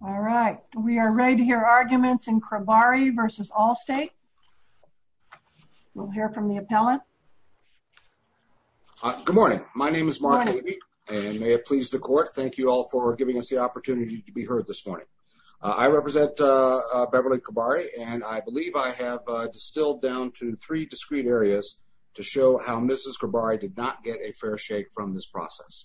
All right, we are ready to hear arguments in Cribari v. Allstate. We'll hear from the appellant. Good morning. My name is Mark Levy and may it please the court. Thank you all for giving us the opportunity to be heard this morning. I represent Beverly Cribari and I believe I have distilled down to three discrete areas to show how Mrs. Cribari did not get a fair shake from this process.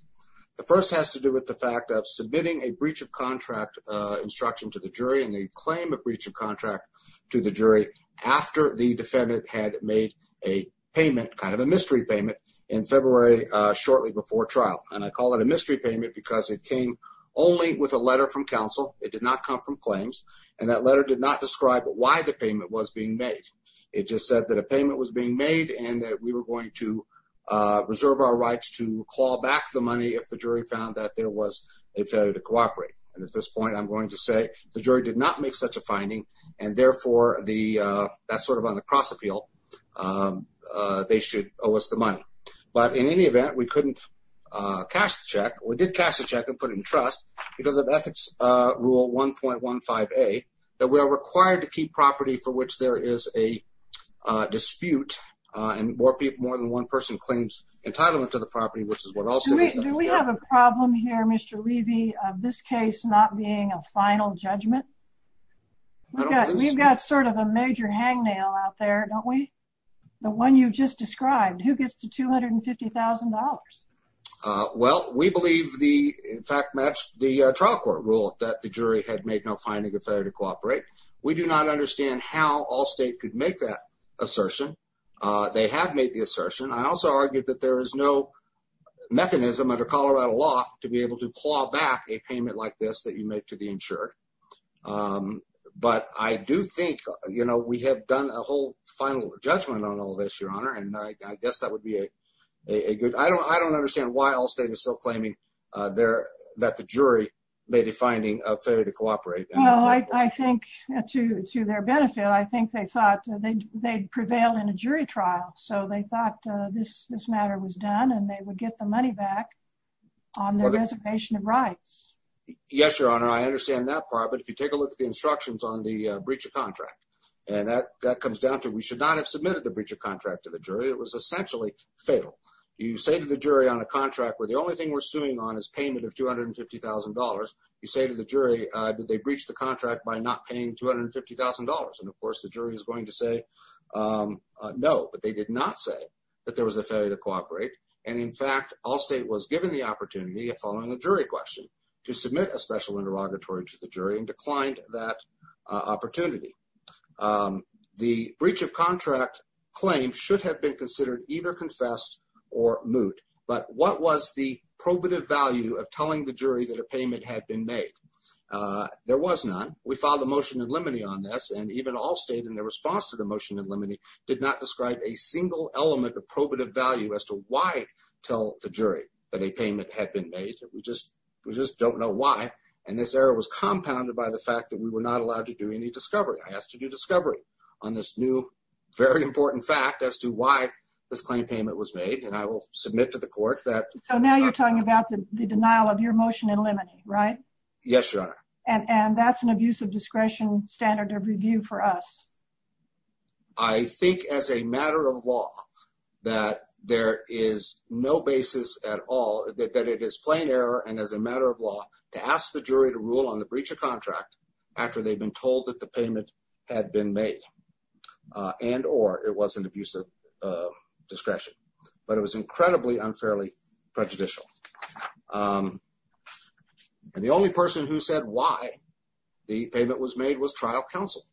The first has to do with the fact of submitting a breach of contract instruction to the jury and the claim of breach of contract to the jury after the defendant had made a payment kind of a mystery payment in February shortly before trial and I call it a mystery payment because it came only with a letter from counsel. It did not come from claims and that letter did not describe why the payment was being made. It just said that a payment was being made and that we were going to reserve our rights to claw back the money if the jury found that there was a failure to cooperate. And at this point I'm going to say the jury did not make such a finding and therefore that's sort of on the cross appeal. They should owe us the money. But in any event, we couldn't cash the check. We did cash the check and put it in trust because of Ethics Rule 1.15a that we are required to keep property for which there is a dispute and more people more than one person claims entitlement to the property, which is what Allstate has done. Do we have a problem here Mr. Levy of this case not being a final judgment? We've got sort of a major hangnail out there, don't we? The one you just described, who gets the $250,000? Well, we believe the fact matched the trial court rule that the jury had made no finding of failure to cooperate. We do not understand how Allstate could make that assertion. They have made the assertion. I also argued that there is no mechanism under Colorado law to be able to claw back a payment like this that you make to the insured. But I do think, you know, we have done a whole final judgment on all this, Your Honor, and I guess that would be a good... I don't understand why Allstate is still claiming that the jury made a finding of failure to cooperate. No, I think to their benefit, I think they thought they'd prevail in a jury trial. So they thought this matter was done and they would get the money back on their reservation of rights. Yes, Your Honor, I understand that part. But if you take a look at the instructions on the breach of contract, and that comes down to we should not have submitted the breach of contract to the jury, it was essentially fatal. You say to the jury on a contract where the only thing we're suing on is payment of $250,000, you say to the jury that they breached the contract by not paying $250,000. And of course, the jury is going to say no, but they did not say that there was a failure to cooperate. And in fact, Allstate was given the opportunity of following a jury question to submit a special interrogatory to the jury and declined that opportunity. The breach of contract claim should have been considered either confessed or moot. But what was the probative value of telling the jury that a payment had been made? There was none. We filed a motion in limine on this, and even Allstate in their response to the motion in limine did not describe a single element of probative value as to why tell the jury that a payment had been made. We just don't know why. And this error was compounded by the fact that we were not allowed to do any discovery. I asked to do discovery on this new, very important fact as to why this claim payment was made, and I will submit to the court that- So now you're talking about the denial of your motion in limine, right? Yes, Your Honor. And that's an abuse of discretion standard of review for us. I think as a matter of law that there is no basis at all that it is plain error and as a matter of law to ask the jury to rule on the breach of contract after they've been told that the payment had been made and or it was an abuse of discretion, but it was incredibly unfairly prejudicial. And the only person who said why the payment was made was trial counsel.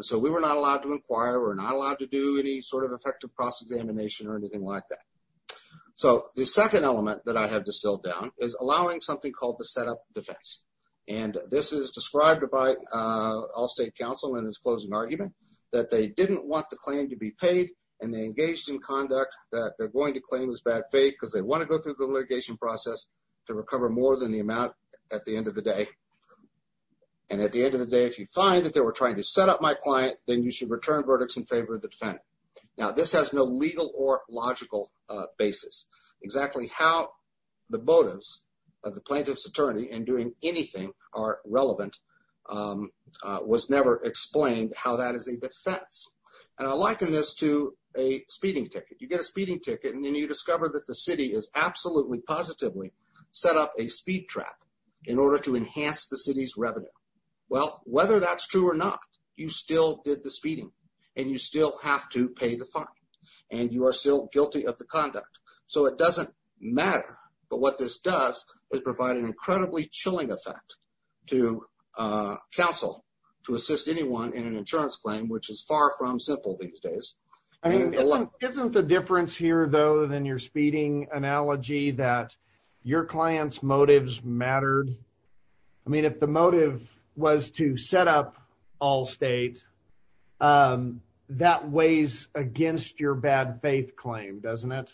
So we were not allowed to inquire or not allowed to do any sort of effective process examination or anything like that. So the second element that I have distilled down is allowing something called the setup defense. And this is described by all state counsel in his closing argument that they didn't want the claim to be paid and they engaged in conduct that they're going to claim is bad faith because they want to go through the litigation process to recover more than the amount at the end of the day. And at the end of the day, if you find that they were trying to set up my client, then you should return verdicts in favor of the defendant. Now, this has no legal or logical basis exactly how the motives of the plaintiff's attorney and doing anything are relevant was never explained how that is a defense and I liken this to a speeding ticket. You get a speeding ticket and then you discover that the city is absolutely positively set up a speed trap in order to enhance the city's revenue. Well, whether that's true or not, you still did the speeding and you still have to pay the fine and you are still guilty of the conduct. So it doesn't matter. But what this does is provide an incredibly chilling effect to counsel to assist anyone in an insurance claim, which is far from simple these days. I mean, isn't the difference here, though, than your speeding analogy that your clients motives mattered? I mean, if the motive was to set up all state, that weighs against your bad faith claim, doesn't it?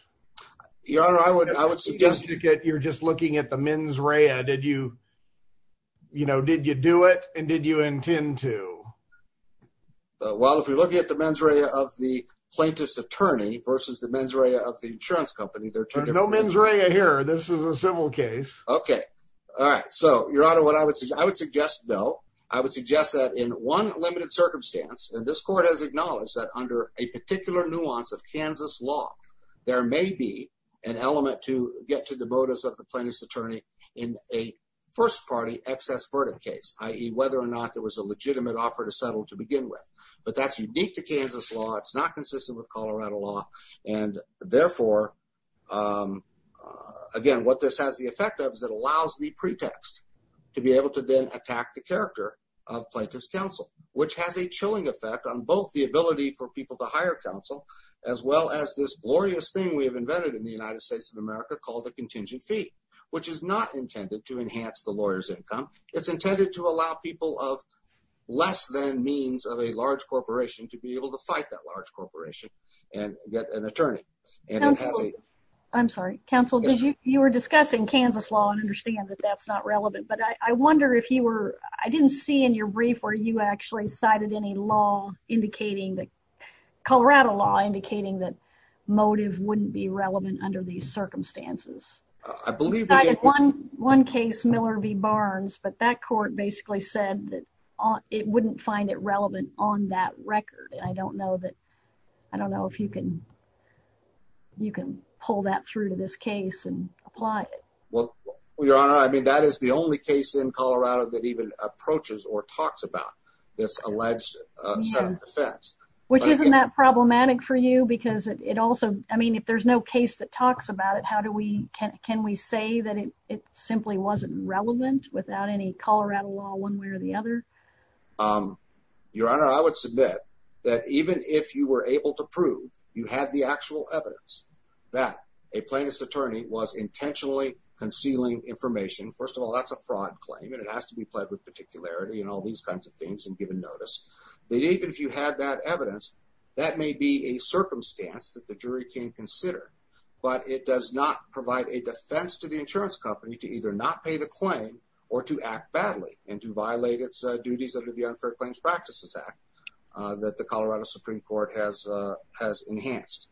Your honor, I would suggest you get you're just looking at the mens rea. Did you, you know, did you do it? And did you intend to? Well, if you look at the mens rea of the plaintiff's attorney versus the mens rea of the insurance company, there's no mens rea here. This is a civil case. Okay. All right. So your honor, what I would say, I would suggest though, I would suggest that in one limited circumstance and this court has acknowledged that under a particular nuance of Kansas law, there may be an element to get to the motives of the plaintiff's attorney in a first party excess verdict case, i.e. Whether or not there was a legitimate offer to settle to begin with, but that's unique to Kansas law. It's not consistent with Colorado law. And therefore, again, what this has the effect of is it allows the pretext to be able to then attack the character of plaintiff's counsel, which has a chilling effect on both the ability for people to hire counsel, as well as this glorious thing we have invented in the United States of America called the contingent fee, which is not intended to enhance the lawyers income. It's intended to allow people of less than means of a large corporation to be able to fight that large corporation and get an attorney. I'm sorry, counsel, did you, you were discussing Kansas law and understand that that's not relevant, but I wonder if you were, I didn't see in your brief where you actually cited any law indicating that Colorado law indicating that motive wouldn't be relevant under these circumstances. I believe one case Miller v. Barnes, but that court basically said that it wouldn't find it relevant on that record. And I don't know that I don't know if you can, you can pull that through to this case and apply it. Well, your honor. I mean, that is the only case in Colorado that even approaches or talks about this alleged set of defense, which isn't that problematic for you because it also, I mean, if there's no case that talks about it, how do we can we say that it simply wasn't relevant without any Colorado law one way or the other your honor. I would submit that even if you were able to prove you have the actual evidence that a plaintiff's attorney was intentionally concealing information. First of all, that's a fraud claim and it has to be pled with particularity and all these kinds of things and given notice that even if you had that evidence that may be a circumstance that the jury can consider, but it does not provide a defense to the insurance company to either not pay the claim or to act badly and to violate its duties under the Unfair Claims Practices Act that the Colorado Supreme Court has has enhanced.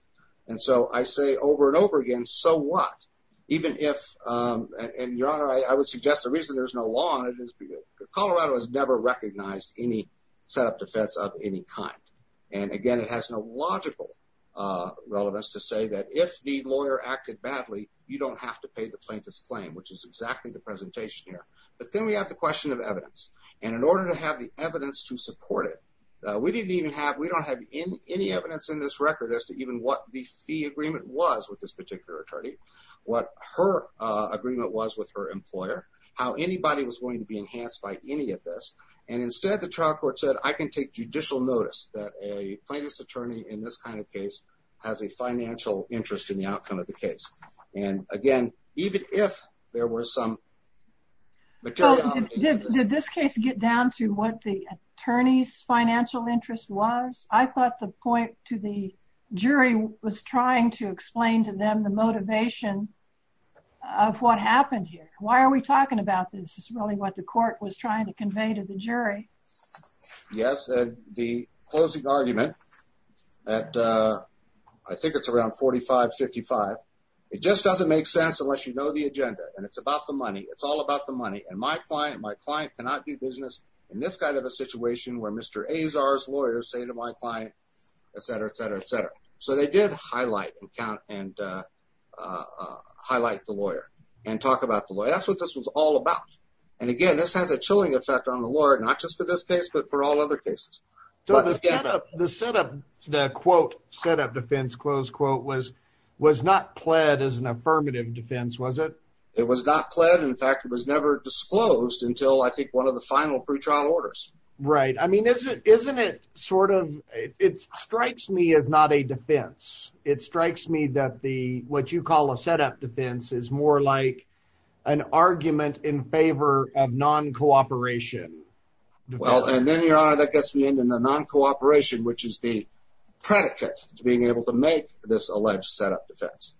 And so I say over and over again. So what even if and your honor, I would suggest the reason there's no law on it is because Colorado has never recognized any set up defense of any kind. And again, it has no logical relevance to say that if the plaintiff's claim which is exactly the presentation here, but then we have the question of evidence and in order to have the evidence to support it, we didn't even have we don't have in any evidence in this record as to even what the fee agreement was with this particular attorney what her agreement was with her employer how anybody was going to be enhanced by any of this and instead the trial court said I can take judicial notice that a plaintiff's attorney in this kind of case has a financial interest in the outcome of the case. And again, even if there were some material did this case get down to what the attorneys financial interest was. I thought the point to the jury was trying to explain to them the motivation of what happened here. Why are we talking about this is really what the court was trying to convey to the jury. Yes, the closing argument at I think it's around 45 55. It just doesn't make sense unless you know the agenda and it's about the money. It's all about the money and my client my client cannot do business in this kind of a situation where Mr. Azar's lawyers say to my client, etc, etc, etc. So they did highlight and count and highlight the lawyer and talk about the lawyer. That's what this was all about. And again, this has a chilling effect on the Lord not just for this case, but for all other cases. So let's get up the set up the quote set up defense close quote was was not pled as an affirmative defense. Was it it was not pled. In fact, it was never disclosed until I think one of the final pretrial orders, right? I mean, is it isn't it sort of it strikes me as not a defense. It strikes me that the what you call a set up defense is more like an argument in favor of non-cooperation. Well, and then your honor that gets me into the non-cooperation which is the predicate to being able to make this alleged set up defense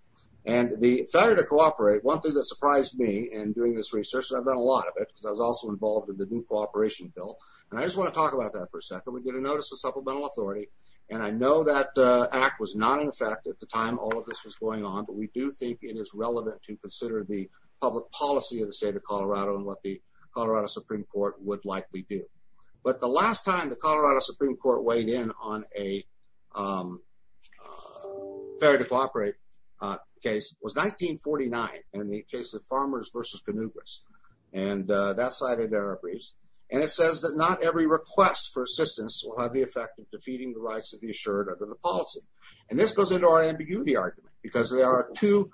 and the failure to cooperate one thing that surprised me and doing this research and I've done a lot of it because I was also involved in the new cooperation bill and I just want to talk about that for a second. We get a notice of supplemental authority and I know that act was not in effect at the time. All of this was going on but we do think it is relevant to consider the public policy of the state of Colorado and what the Colorado Supreme Court would likely do but the last time the Colorado Supreme Court weighed in on a fair to cooperate case was 1949 and the case of farmers versus canoogras and that cited there are briefs and it says that not every request for assistance will have the effect of defeating the rights of the assured under the policy and this goes into our ambiguity argument because there are two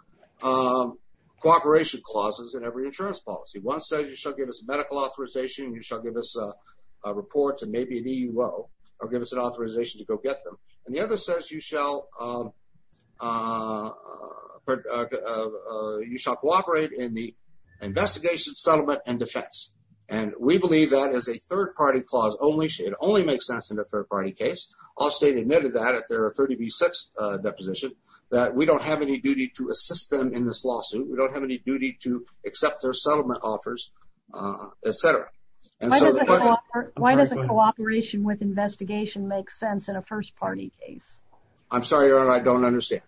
cooperation clauses in every insurance policy. One says you shall give us medical authorization. You shall give us a report and maybe an EUO or give us an authorization to go get them and the other says you shall you shall cooperate in the investigation settlement and defense and we believe that is a third-party clause only should only make sense in a third-party case. All state admitted that if there are 30 v6 deposition that we don't have any duty to assist them in this lawsuit. We don't have any duty to accept their settlement offers, etc. And so why does a cooperation with investigation make sense in a first-party case? I'm sorry or I don't understand.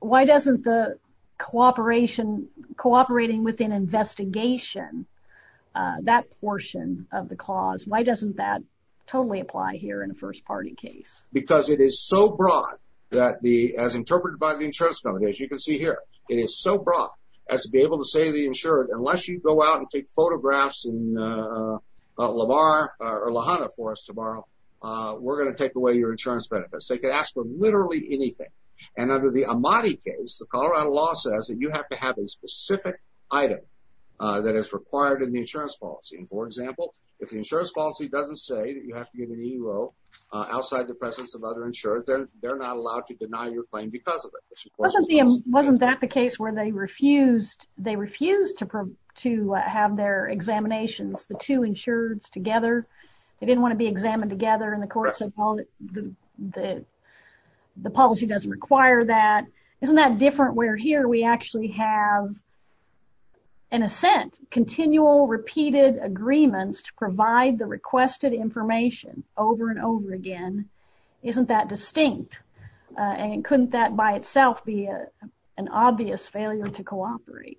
Why doesn't the cooperation cooperating with an investigation that portion of the clause? Why doesn't that totally apply here in a first-party case because it is so broad that the as interpreted by the insurance company as you can see here. It is so broad as to be able to say the insured unless you go out and take photographs and LaVar or Lahanna for us tomorrow. We're going to take away your insurance benefits. They could ask for literally anything and under the Amati case, the Colorado law says that you have to have a specific item that is required in the insurance policy. And for example, if the insurance policy doesn't say that you have to give an EUO outside the presence of other insurance, then they're not allowed to deny your claim because of it wasn't that the case where they refused to have their examinations. The two insureds together, they didn't want to be examined together and the court said, well, the policy doesn't require that. Isn't that different where here we actually have an assent, continual repeated agreements to provide the requested information over and over again. Isn't that distinct and couldn't that by itself be an obvious failure to cooperate?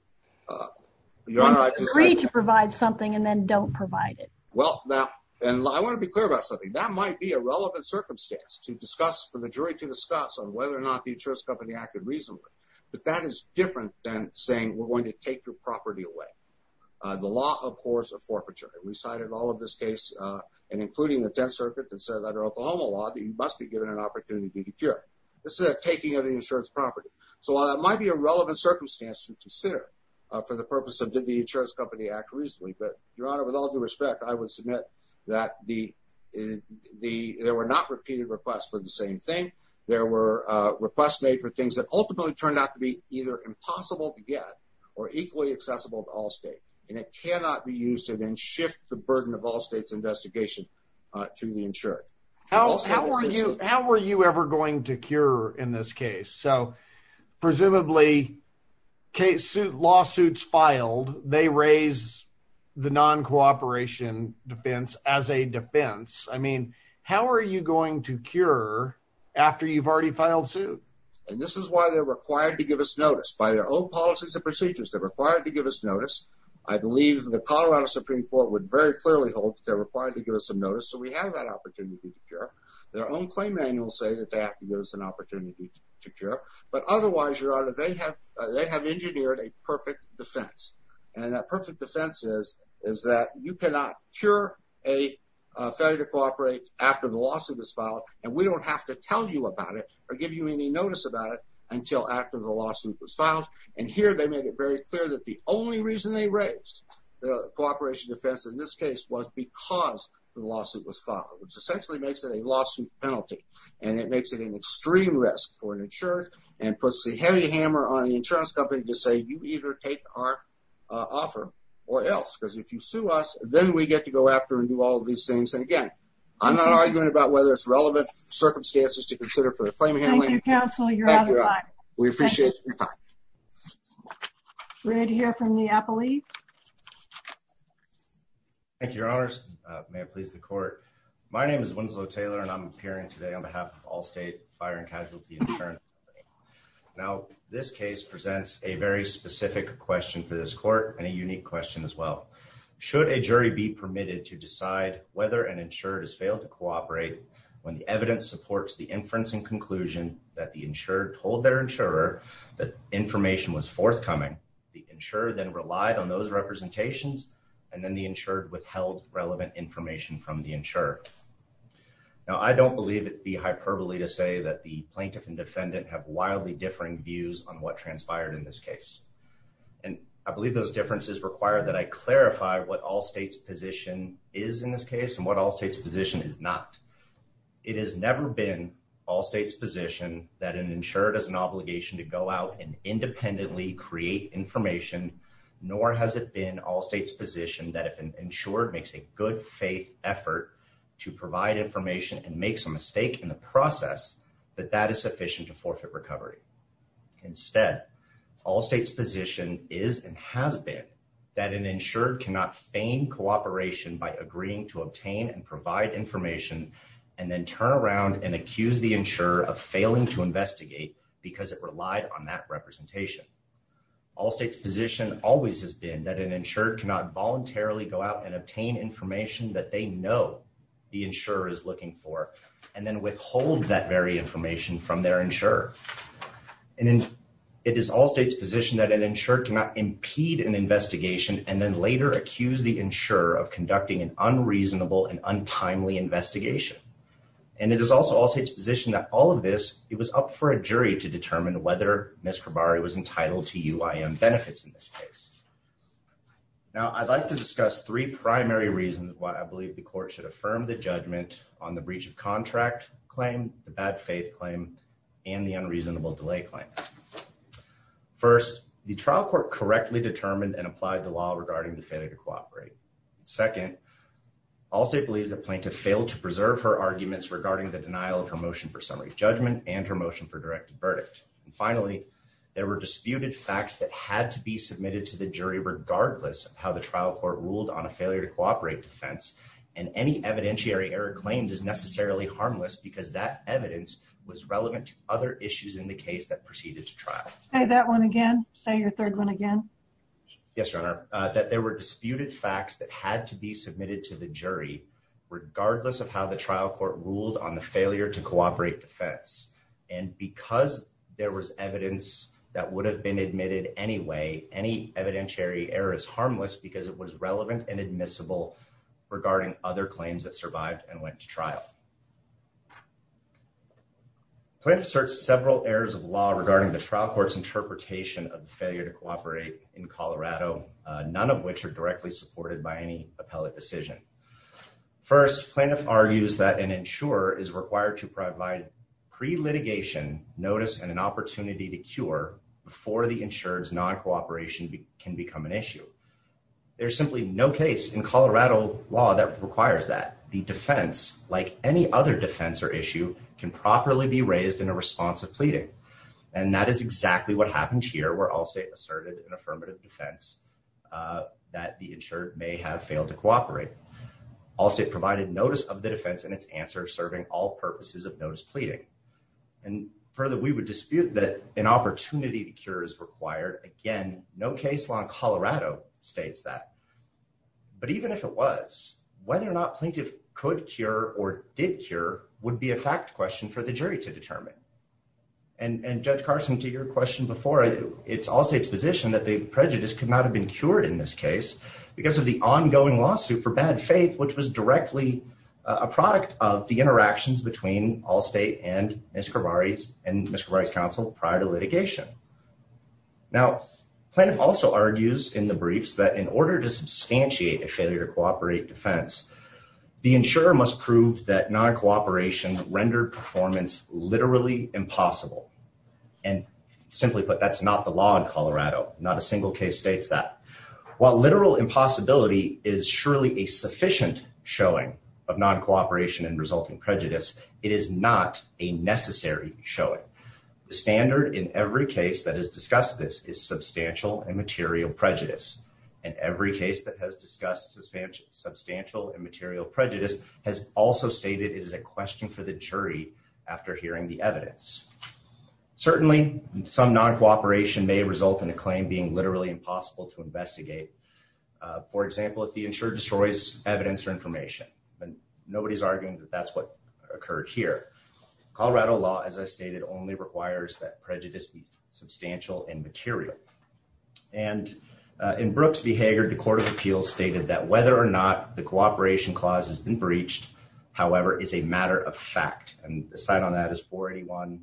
You're not free to provide something and then don't provide it. Well now and I want to be clear about something that might be a relevant circumstance to discuss for the jury to discuss on whether or not the insurance company acted reasonably, but that is different than saying we're going to take your property away. The law of course of forfeiture. It recited all of this case and including the 10th circuit that says under Oklahoma law that you must be given an opportunity to cure. This is a taking of the insurance property. So while that might be a relevant circumstance to consider for the purpose of did the insurance company act reasonably, but your honor with all due respect, I would submit that the the there were not repeated requests for the same thing. There were requests made for things that ultimately turned out to be either impossible to get or equally accessible to all states and it cannot be used to then shift the burden of all states investigation to the insured. How were you ever going to cure in this case? So presumably case suit lawsuits filed. They raise the non-cooperation defense as a defense. I mean, how are you going to cure after you've already filed suit and this is why they're required to give us notice by their own policies and procedures. They're required to give us notice. I believe the Colorado Supreme Court would very clearly hold that they're required to give us some notice. So we have that opportunity to cure their own claim manual say that they have to give us an opportunity to cure but otherwise your honor they have they have engineered a perfect defense and that perfect defense is is that you cannot cure a failure to cooperate after the lawsuit was filed and we don't have to tell you about it or give you any notice about it until after the lawsuit was filed and here they made it very clear that the only reason they raised the cooperation defense in this case was because the lawsuit was filed which and it makes it an extreme risk for an insured and puts the heavy hammer on the insurance company to say you either take our offer or else because if you sue us then we get to go after and do all these things. And again, I'm not arguing about whether it's relevant circumstances to consider for the claim handling counsel. You're out of line. We appreciate your time. Ready to hear from the appellee. Thank you. Your honors may it please the court. My name is Winslow Taylor and I'm appearing today on behalf of Allstate Fire and Casualty Insurance Company. Now this case presents a very specific question for this court and a unique question as well. Should a jury be permitted to decide whether an insured has failed to cooperate when the evidence supports the inference and conclusion that the insured told their insurer that information was forthcoming the insurer then relied on those representations and then the insured withheld relevant information from the insurer. Now, I don't believe it be hyperbole to say that the plaintiff and defendant have wildly differing views on what transpired in this case. And I believe those differences require that I clarify what Allstate's position is in this case and what Allstate's position is not. It has never been Allstate's position that an insured has an obligation to go out and independently create information nor has it been Allstate's position that if an insured makes a good faith effort to provide information and makes a mistake in the process that that is sufficient to forfeit recovery. Instead, Allstate's position is and has been that an insured cannot feign cooperation by agreeing to obtain and provide information and then turn around and accuse the insurer of failing to investigate because it relied on that representation. Allstate's position always has been that an insured cannot voluntarily go out and obtain information that they know the insurer is looking for and then withhold that very information from their insurer. And then it is Allstate's position that an insured cannot impede an investigation and then later accuse the insurer of conducting an unreasonable and untimely investigation. And it is also Allstate's position that all of this, it was up for a jury to determine whether Ms. Khabari was entitled to UIM benefits in this case. Now, I'd like to discuss three primary reasons why I believe the court should affirm the judgment on the breach of contract claim, the bad faith claim, and the unreasonable delay claim. First, the trial court correctly determined and applied the law regarding the failure to cooperate. Second, Allstate believes the plaintiff failed to preserve her arguments regarding the denial of her motion for summary judgment and her motion for directed verdict. Finally, there were disputed facts that had to be submitted to the jury regardless of how the trial court ruled on a failure to cooperate defense and any evidentiary error claimed is necessarily harmless because that evidence was relevant to other issues in the case that proceeded to trial. Say that one again. Say your third one again. Yes, Your Honor, that there were disputed facts that had to be submitted to the jury regardless of how the trial court ruled on the failure to cooperate defense. And because there was evidence that would have been admitted anyway, any evidentiary error is harmless because it was relevant and admissible regarding other claims that survived and went to trial. Plaintiff asserts several errors of law regarding the trial court's interpretation of the failure to cooperate in Colorado, none of which are directly supported by any appellate decision. First, plaintiff argues that an insurer is required to provide pre-litigation notice and an opportunity to cure before the insured's non-cooperation can become an issue. There's simply no case in Colorado law that requires that. The defense, like any other defense or issue, can properly be raised in a response of pleading. And that is exactly what happened here where Allstate asserted an affirmative defense that the insured may have failed to cooperate. Allstate provided notice of the defense and its answer serving all purposes of notice pleading. And further, we would dispute that an opportunity to cure is required. Again, no case law in Colorado states that. But even if it was, whether or not plaintiff could cure or did cure would be a fact question for the jury to determine. And Judge Carson, to your question before, it's Allstate's position that the prejudice could not have been cured in this case because of the ongoing lawsuit for bad faith, which was directly a product of the interactions between Allstate and Ms. Cravari's counsel prior to litigation. Now, plaintiff also argues in the briefs that in order to substantiate a failure to cooperate defense, the insurer must prove that non-cooperation rendered performance literally impossible. And simply put, that's not the law in Colorado. Not a single case states that. While literal impossibility is surely a sufficient showing of non-cooperation and resulting prejudice, it is not a necessary showing. The standard in every case that has discussed this is substantial and material prejudice. And every case that has discussed substantial and material prejudice has also stated it is a question for the jury after hearing the evidence. Certainly, some non-cooperation may result in a claim being literally impossible to investigate. For example, if the insurer destroys evidence or information. Nobody's arguing that that's what occurred here. Colorado law, as I stated, only requires that prejudice be substantial and material. And in Brooks v. Hager, the Court of Appeals stated that whether or not the cooperation clause has been breached, however, is a matter of fact. And the side on that is 481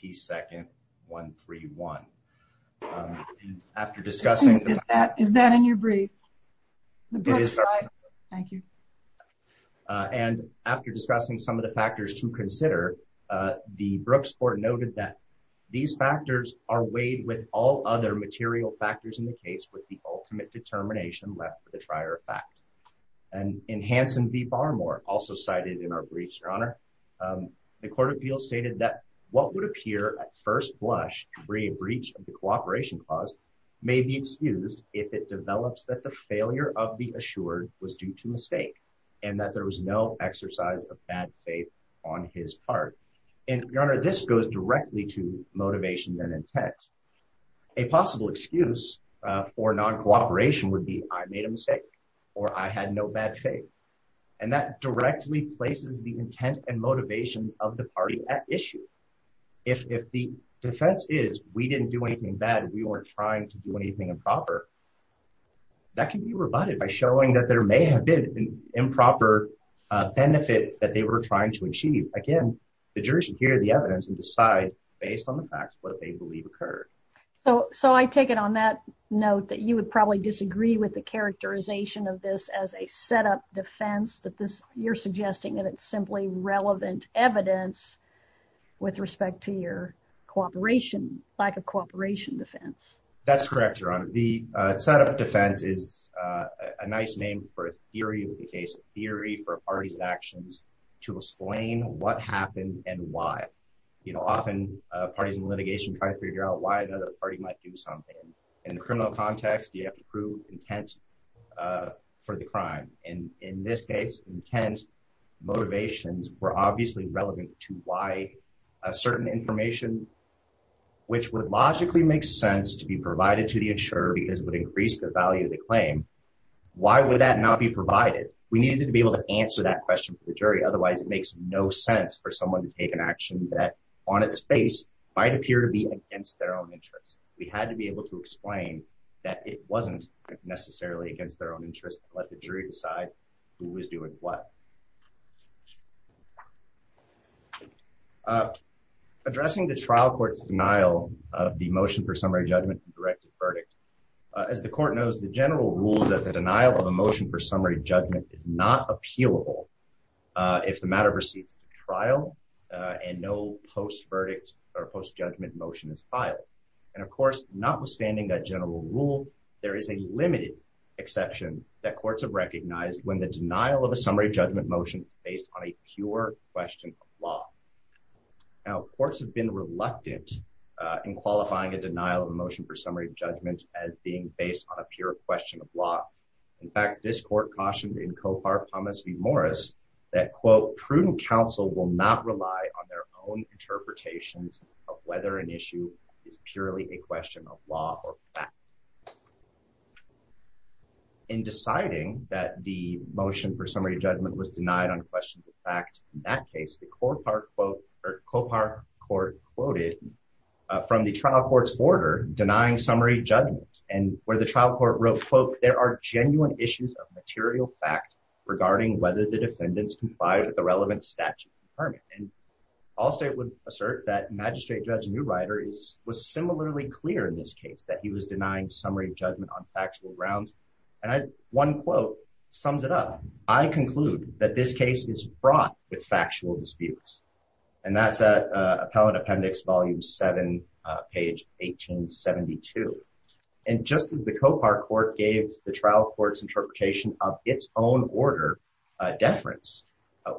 P. 2nd, 131. After discussing... Is that in your brief? It is. Thank you. And after discussing some of the factors to consider, the Brooks Court noted that these factors are weighed with all other material factors in the case with the ultimate determination left for the trier effect. And in Hanson v. Barmore, also cited in our briefs, Your Honor, the Court of Appeals stated that what would appear at first blush to be a breach of the cooperation clause may be excused if it develops that the failure of the assured was due to mistake and that there was no exercise of bad faith on his part. And Your Honor, this goes directly to motivation than intent. A possible excuse for non-cooperation would be I made a mistake or I had no bad faith and that directly places the intent and motivations of the party at issue. If the defense is we didn't do anything bad, we weren't trying to do anything improper. That can be rebutted by showing that there may have been an improper benefit that they were trying to achieve. Again, the jury should hear the evidence and decide based on the facts what they believe occurred. So I take it on that note that you would probably disagree with the characterization of this as a setup defense that you're suggesting that it's simply relevant evidence with respect to your cooperation, lack of cooperation defense. That's correct, Your Honor. The setup defense is a nice name for a theory of the case, a theory for a party's actions to explain what happened and why. You know, often parties in litigation try to figure out why another party might do something. In the criminal context, you have to prove intent for the crime. And in this case, intent motivations were obviously relevant to why a certain information, which would logically make sense to be provided to the insurer because it would increase the value of the claim. Why would that not be provided? We needed to be able to answer that question for the jury. Otherwise, it makes no sense for someone to take an action that on its face might appear to be against their own interests. We had to be able to explain that it wasn't necessarily against their own interest to let the jury decide who was doing what. Addressing the trial court's denial of the motion for summary judgment and directed verdict. As the court knows, the general rule that the denial of a motion for summary judgment is not appealable if the matter received trial and no post verdict or post judgment motion is filed. And of course, notwithstanding that general rule, there is a limited exception that courts have recognized when the denial of a summary judgment is not appealable. based on a pure question of law. Now, courts have been reluctant in qualifying a denial of a motion for summary judgment as being based on a pure question of law. In fact, this court cautioned in Kohar Thomas v. Morris that, quote, prudent counsel will not rely on their own interpretations of whether an issue is purely a question of law or denied on questions of fact. In that case, the Kohar court quoted from the trial court's order denying summary judgment. And where the trial court wrote, quote, there are genuine issues of material fact regarding whether the defendants complied with the relevant statute and permit. And Allstate would assert that Magistrate Judge Neuweider was similarly clear in this case that he was denying summary judgment on factual grounds. And one quote sums it up. I conclude that this case is fraught with factual disputes. And that's at Appellant Appendix Volume 7, page 1872. And just as the Kohar court gave the trial court's interpretation of its own order deference,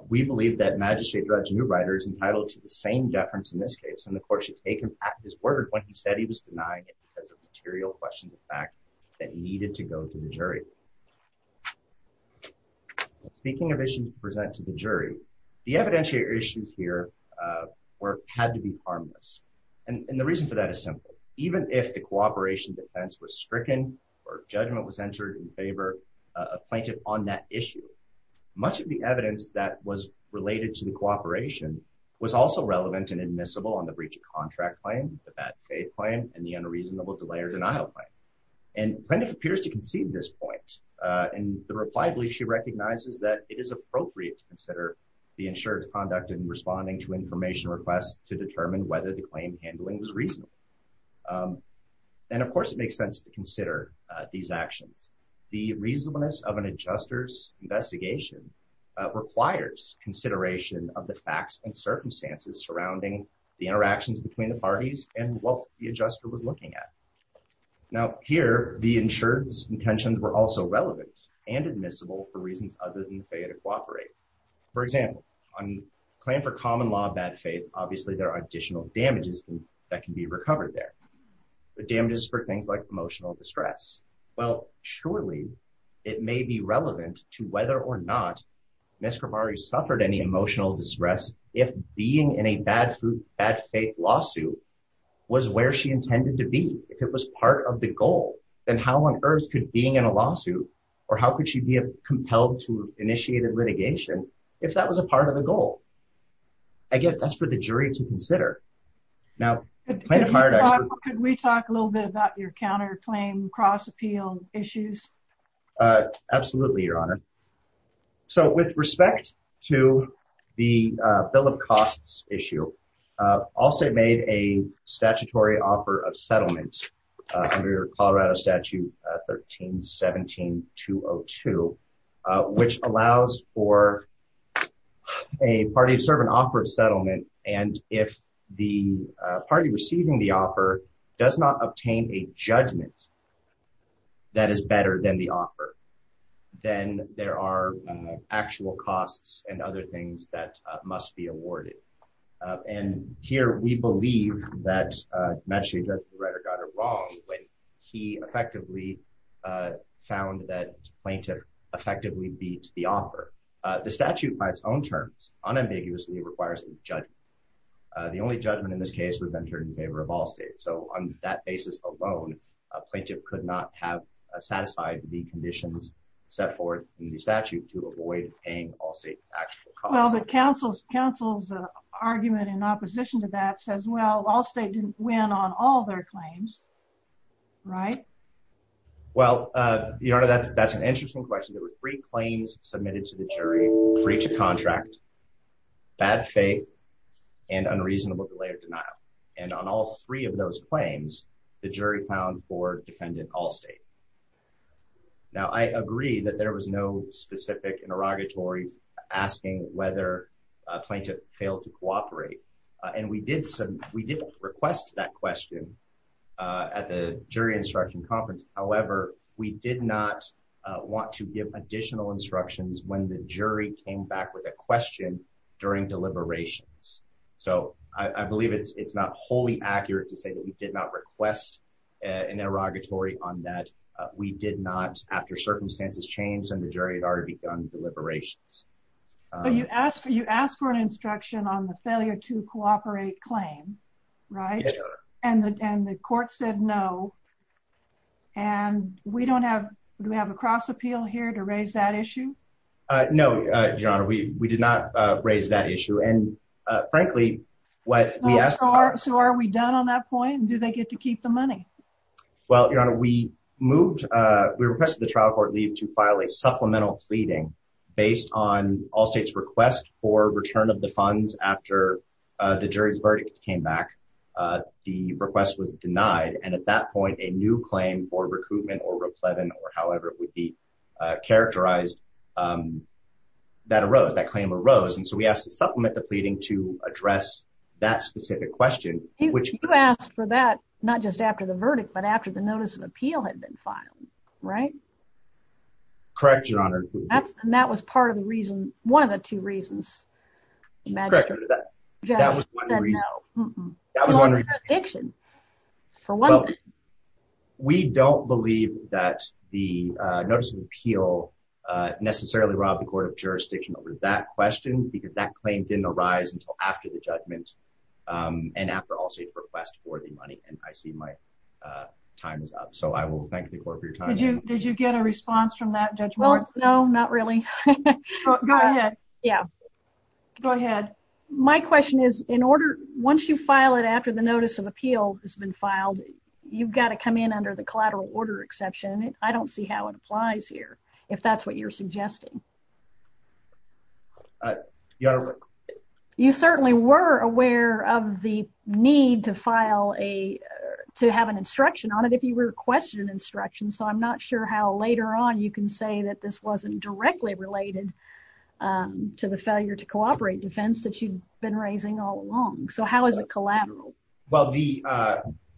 we believe that Magistrate Judge Neuweider is entitled to the same deference in this case. And the court should take him back his word when he said he was denying it because of material questions of fact that needed to go to the jury. Speaking of issues to present to the jury, the evidentiary issues here had to be harmless. And the reason for that is simple. Even if the cooperation defense was stricken or judgment was entered in favor of plaintiff on that issue, much of the evidence that was related to the cooperation was also relevant and admissible on the breach of contract claim, the bad faith claim, and the unreasonable delay or denial claim. And plaintiff appears to concede this point. And the reply belief she recognizes that it is appropriate to consider the insured's conduct in responding to information requests to determine whether the claim handling was reasonable. And of course, it makes sense to consider these actions. The reasonableness of an adjuster's investigation requires consideration of the facts and circumstances surrounding the interactions between the parties and what the adjuster was looking at. Now here, the insured's intentions were also relevant and admissible for reasons other than the faith to cooperate. For example, on claim for common law bad faith, obviously there are additional damages that can be recovered there. The damages for things like emotional distress. Well, surely it may be relevant to whether or not Ms. Kravary suffered any emotional distress if being in a bad faith lawsuit was where she intended to be. If it was part of the goal, then how on earth could being in a lawsuit or how could she be compelled to initiate a litigation if that was a part of the goal? Again, that's for the jury to consider. Now, can we talk a little bit about your counterclaim cross appeal issues? Absolutely, Your Honor. So with respect to the bill of costs issue, Allstate made a statutory offer of settlement under Colorado Statute 13-17-202, which allows for a party to serve an offer of settlement. And if the party receiving the offer does not obtain a judgment that is better than the offer, then there are actual costs and other things that must be awarded. And here we believe that the right or wrong when he effectively found that plaintiff effectively beat the offer. The statute by its own terms unambiguously requires a judgment. The only judgment in this case was entered in favor of Allstate. So on that basis alone, a plaintiff could not have satisfied the conditions set forward in the statute to avoid paying Allstate's actual costs. Well, the counsel's argument in opposition to that says, well, Allstate didn't win on all their claims, right? Well, Your Honor, that's an interesting question. There were three claims submitted to the jury, breach of contract, bad faith, and unreasonable delay or denial. And on all three of those claims, the jury found for defendant Allstate. Now, I agree that there was no specific interrogatory asking whether a plaintiff failed to cooperate. And we did request that question at the jury instruction conference. However, we did not want to give additional instructions when the jury came back with a question during deliberations. So I believe it's not wholly accurate to say that we did not request an interrogatory on that. We did not after circumstances changed and the jury had already begun deliberations. But you asked for an instruction on the failure to cooperate claim, right? And the court said no. And we don't have, do we have a cross appeal here to raise that issue? No, Your Honor, we did not raise that issue. And frankly, what we asked for... So are we done on that point? Do they get to keep the money? Well, Your Honor, we moved, we requested the jury to file a supplemental pleading based on Allstate's request for return of the funds after the jury's verdict came back. The request was denied. And at that point, a new claim for recoupment or repletion or however it would be characterized, that arose, that claim arose. And so we asked to supplement the pleading to address that specific question, which... You asked for that, not just after the verdict, but after the notice of appeal had been filed, right? Correct, Your Honor. And that was part of the reason, one of the two reasons. Correct, Your Honor, that was one of the reasons. That was one of the reasons. Well, it was a jurisdiction, for one thing. We don't believe that the notice of appeal necessarily robbed the court of jurisdiction over that question because that claim didn't arise until after the judgment and after Allstate's request for the time is up. So I will thank the court for your time. Did you get a response from that, Judge Moritz? Well, no, not really. Go ahead. Yeah. Go ahead. My question is, in order... Once you file it after the notice of appeal has been filed, you've gotta come in under the collateral order exception. I don't see how it applies here, if that's what you're suggesting. You certainly were aware of the need to file a... To have an instruction on it, if you requested an instruction. So I'm not sure how later on you can say that this wasn't directly related to the failure to cooperate defense that you'd been raising all along. So how is it collateral? Well, the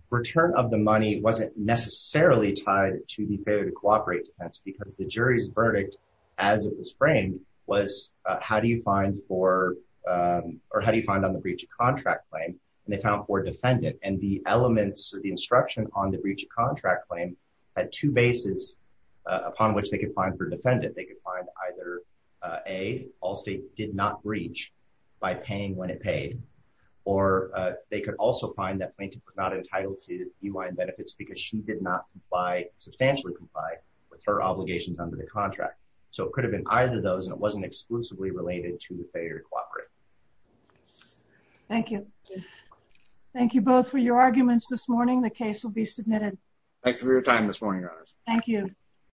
return of the money wasn't necessarily tied to the failure to cooperate defense because the jury's verdict, as it was framed, was how do you find for... Or how do you find on the breach of contract claim? And they found for defendant. And the elements, the instruction on the breach of contract claim, had two bases upon which they could find for defendant. They could find either A, Allstate did not breach by paying when it paid. Or they could also find that plaintiff was not entitled to DUI and benefits because she did not comply, substantially comply with her obligations under the contract. So it could have been either of them. Thank you. Thank you both for your arguments this morning. The case will be submitted. Thank you for your time this morning, Your Honor. Thank you.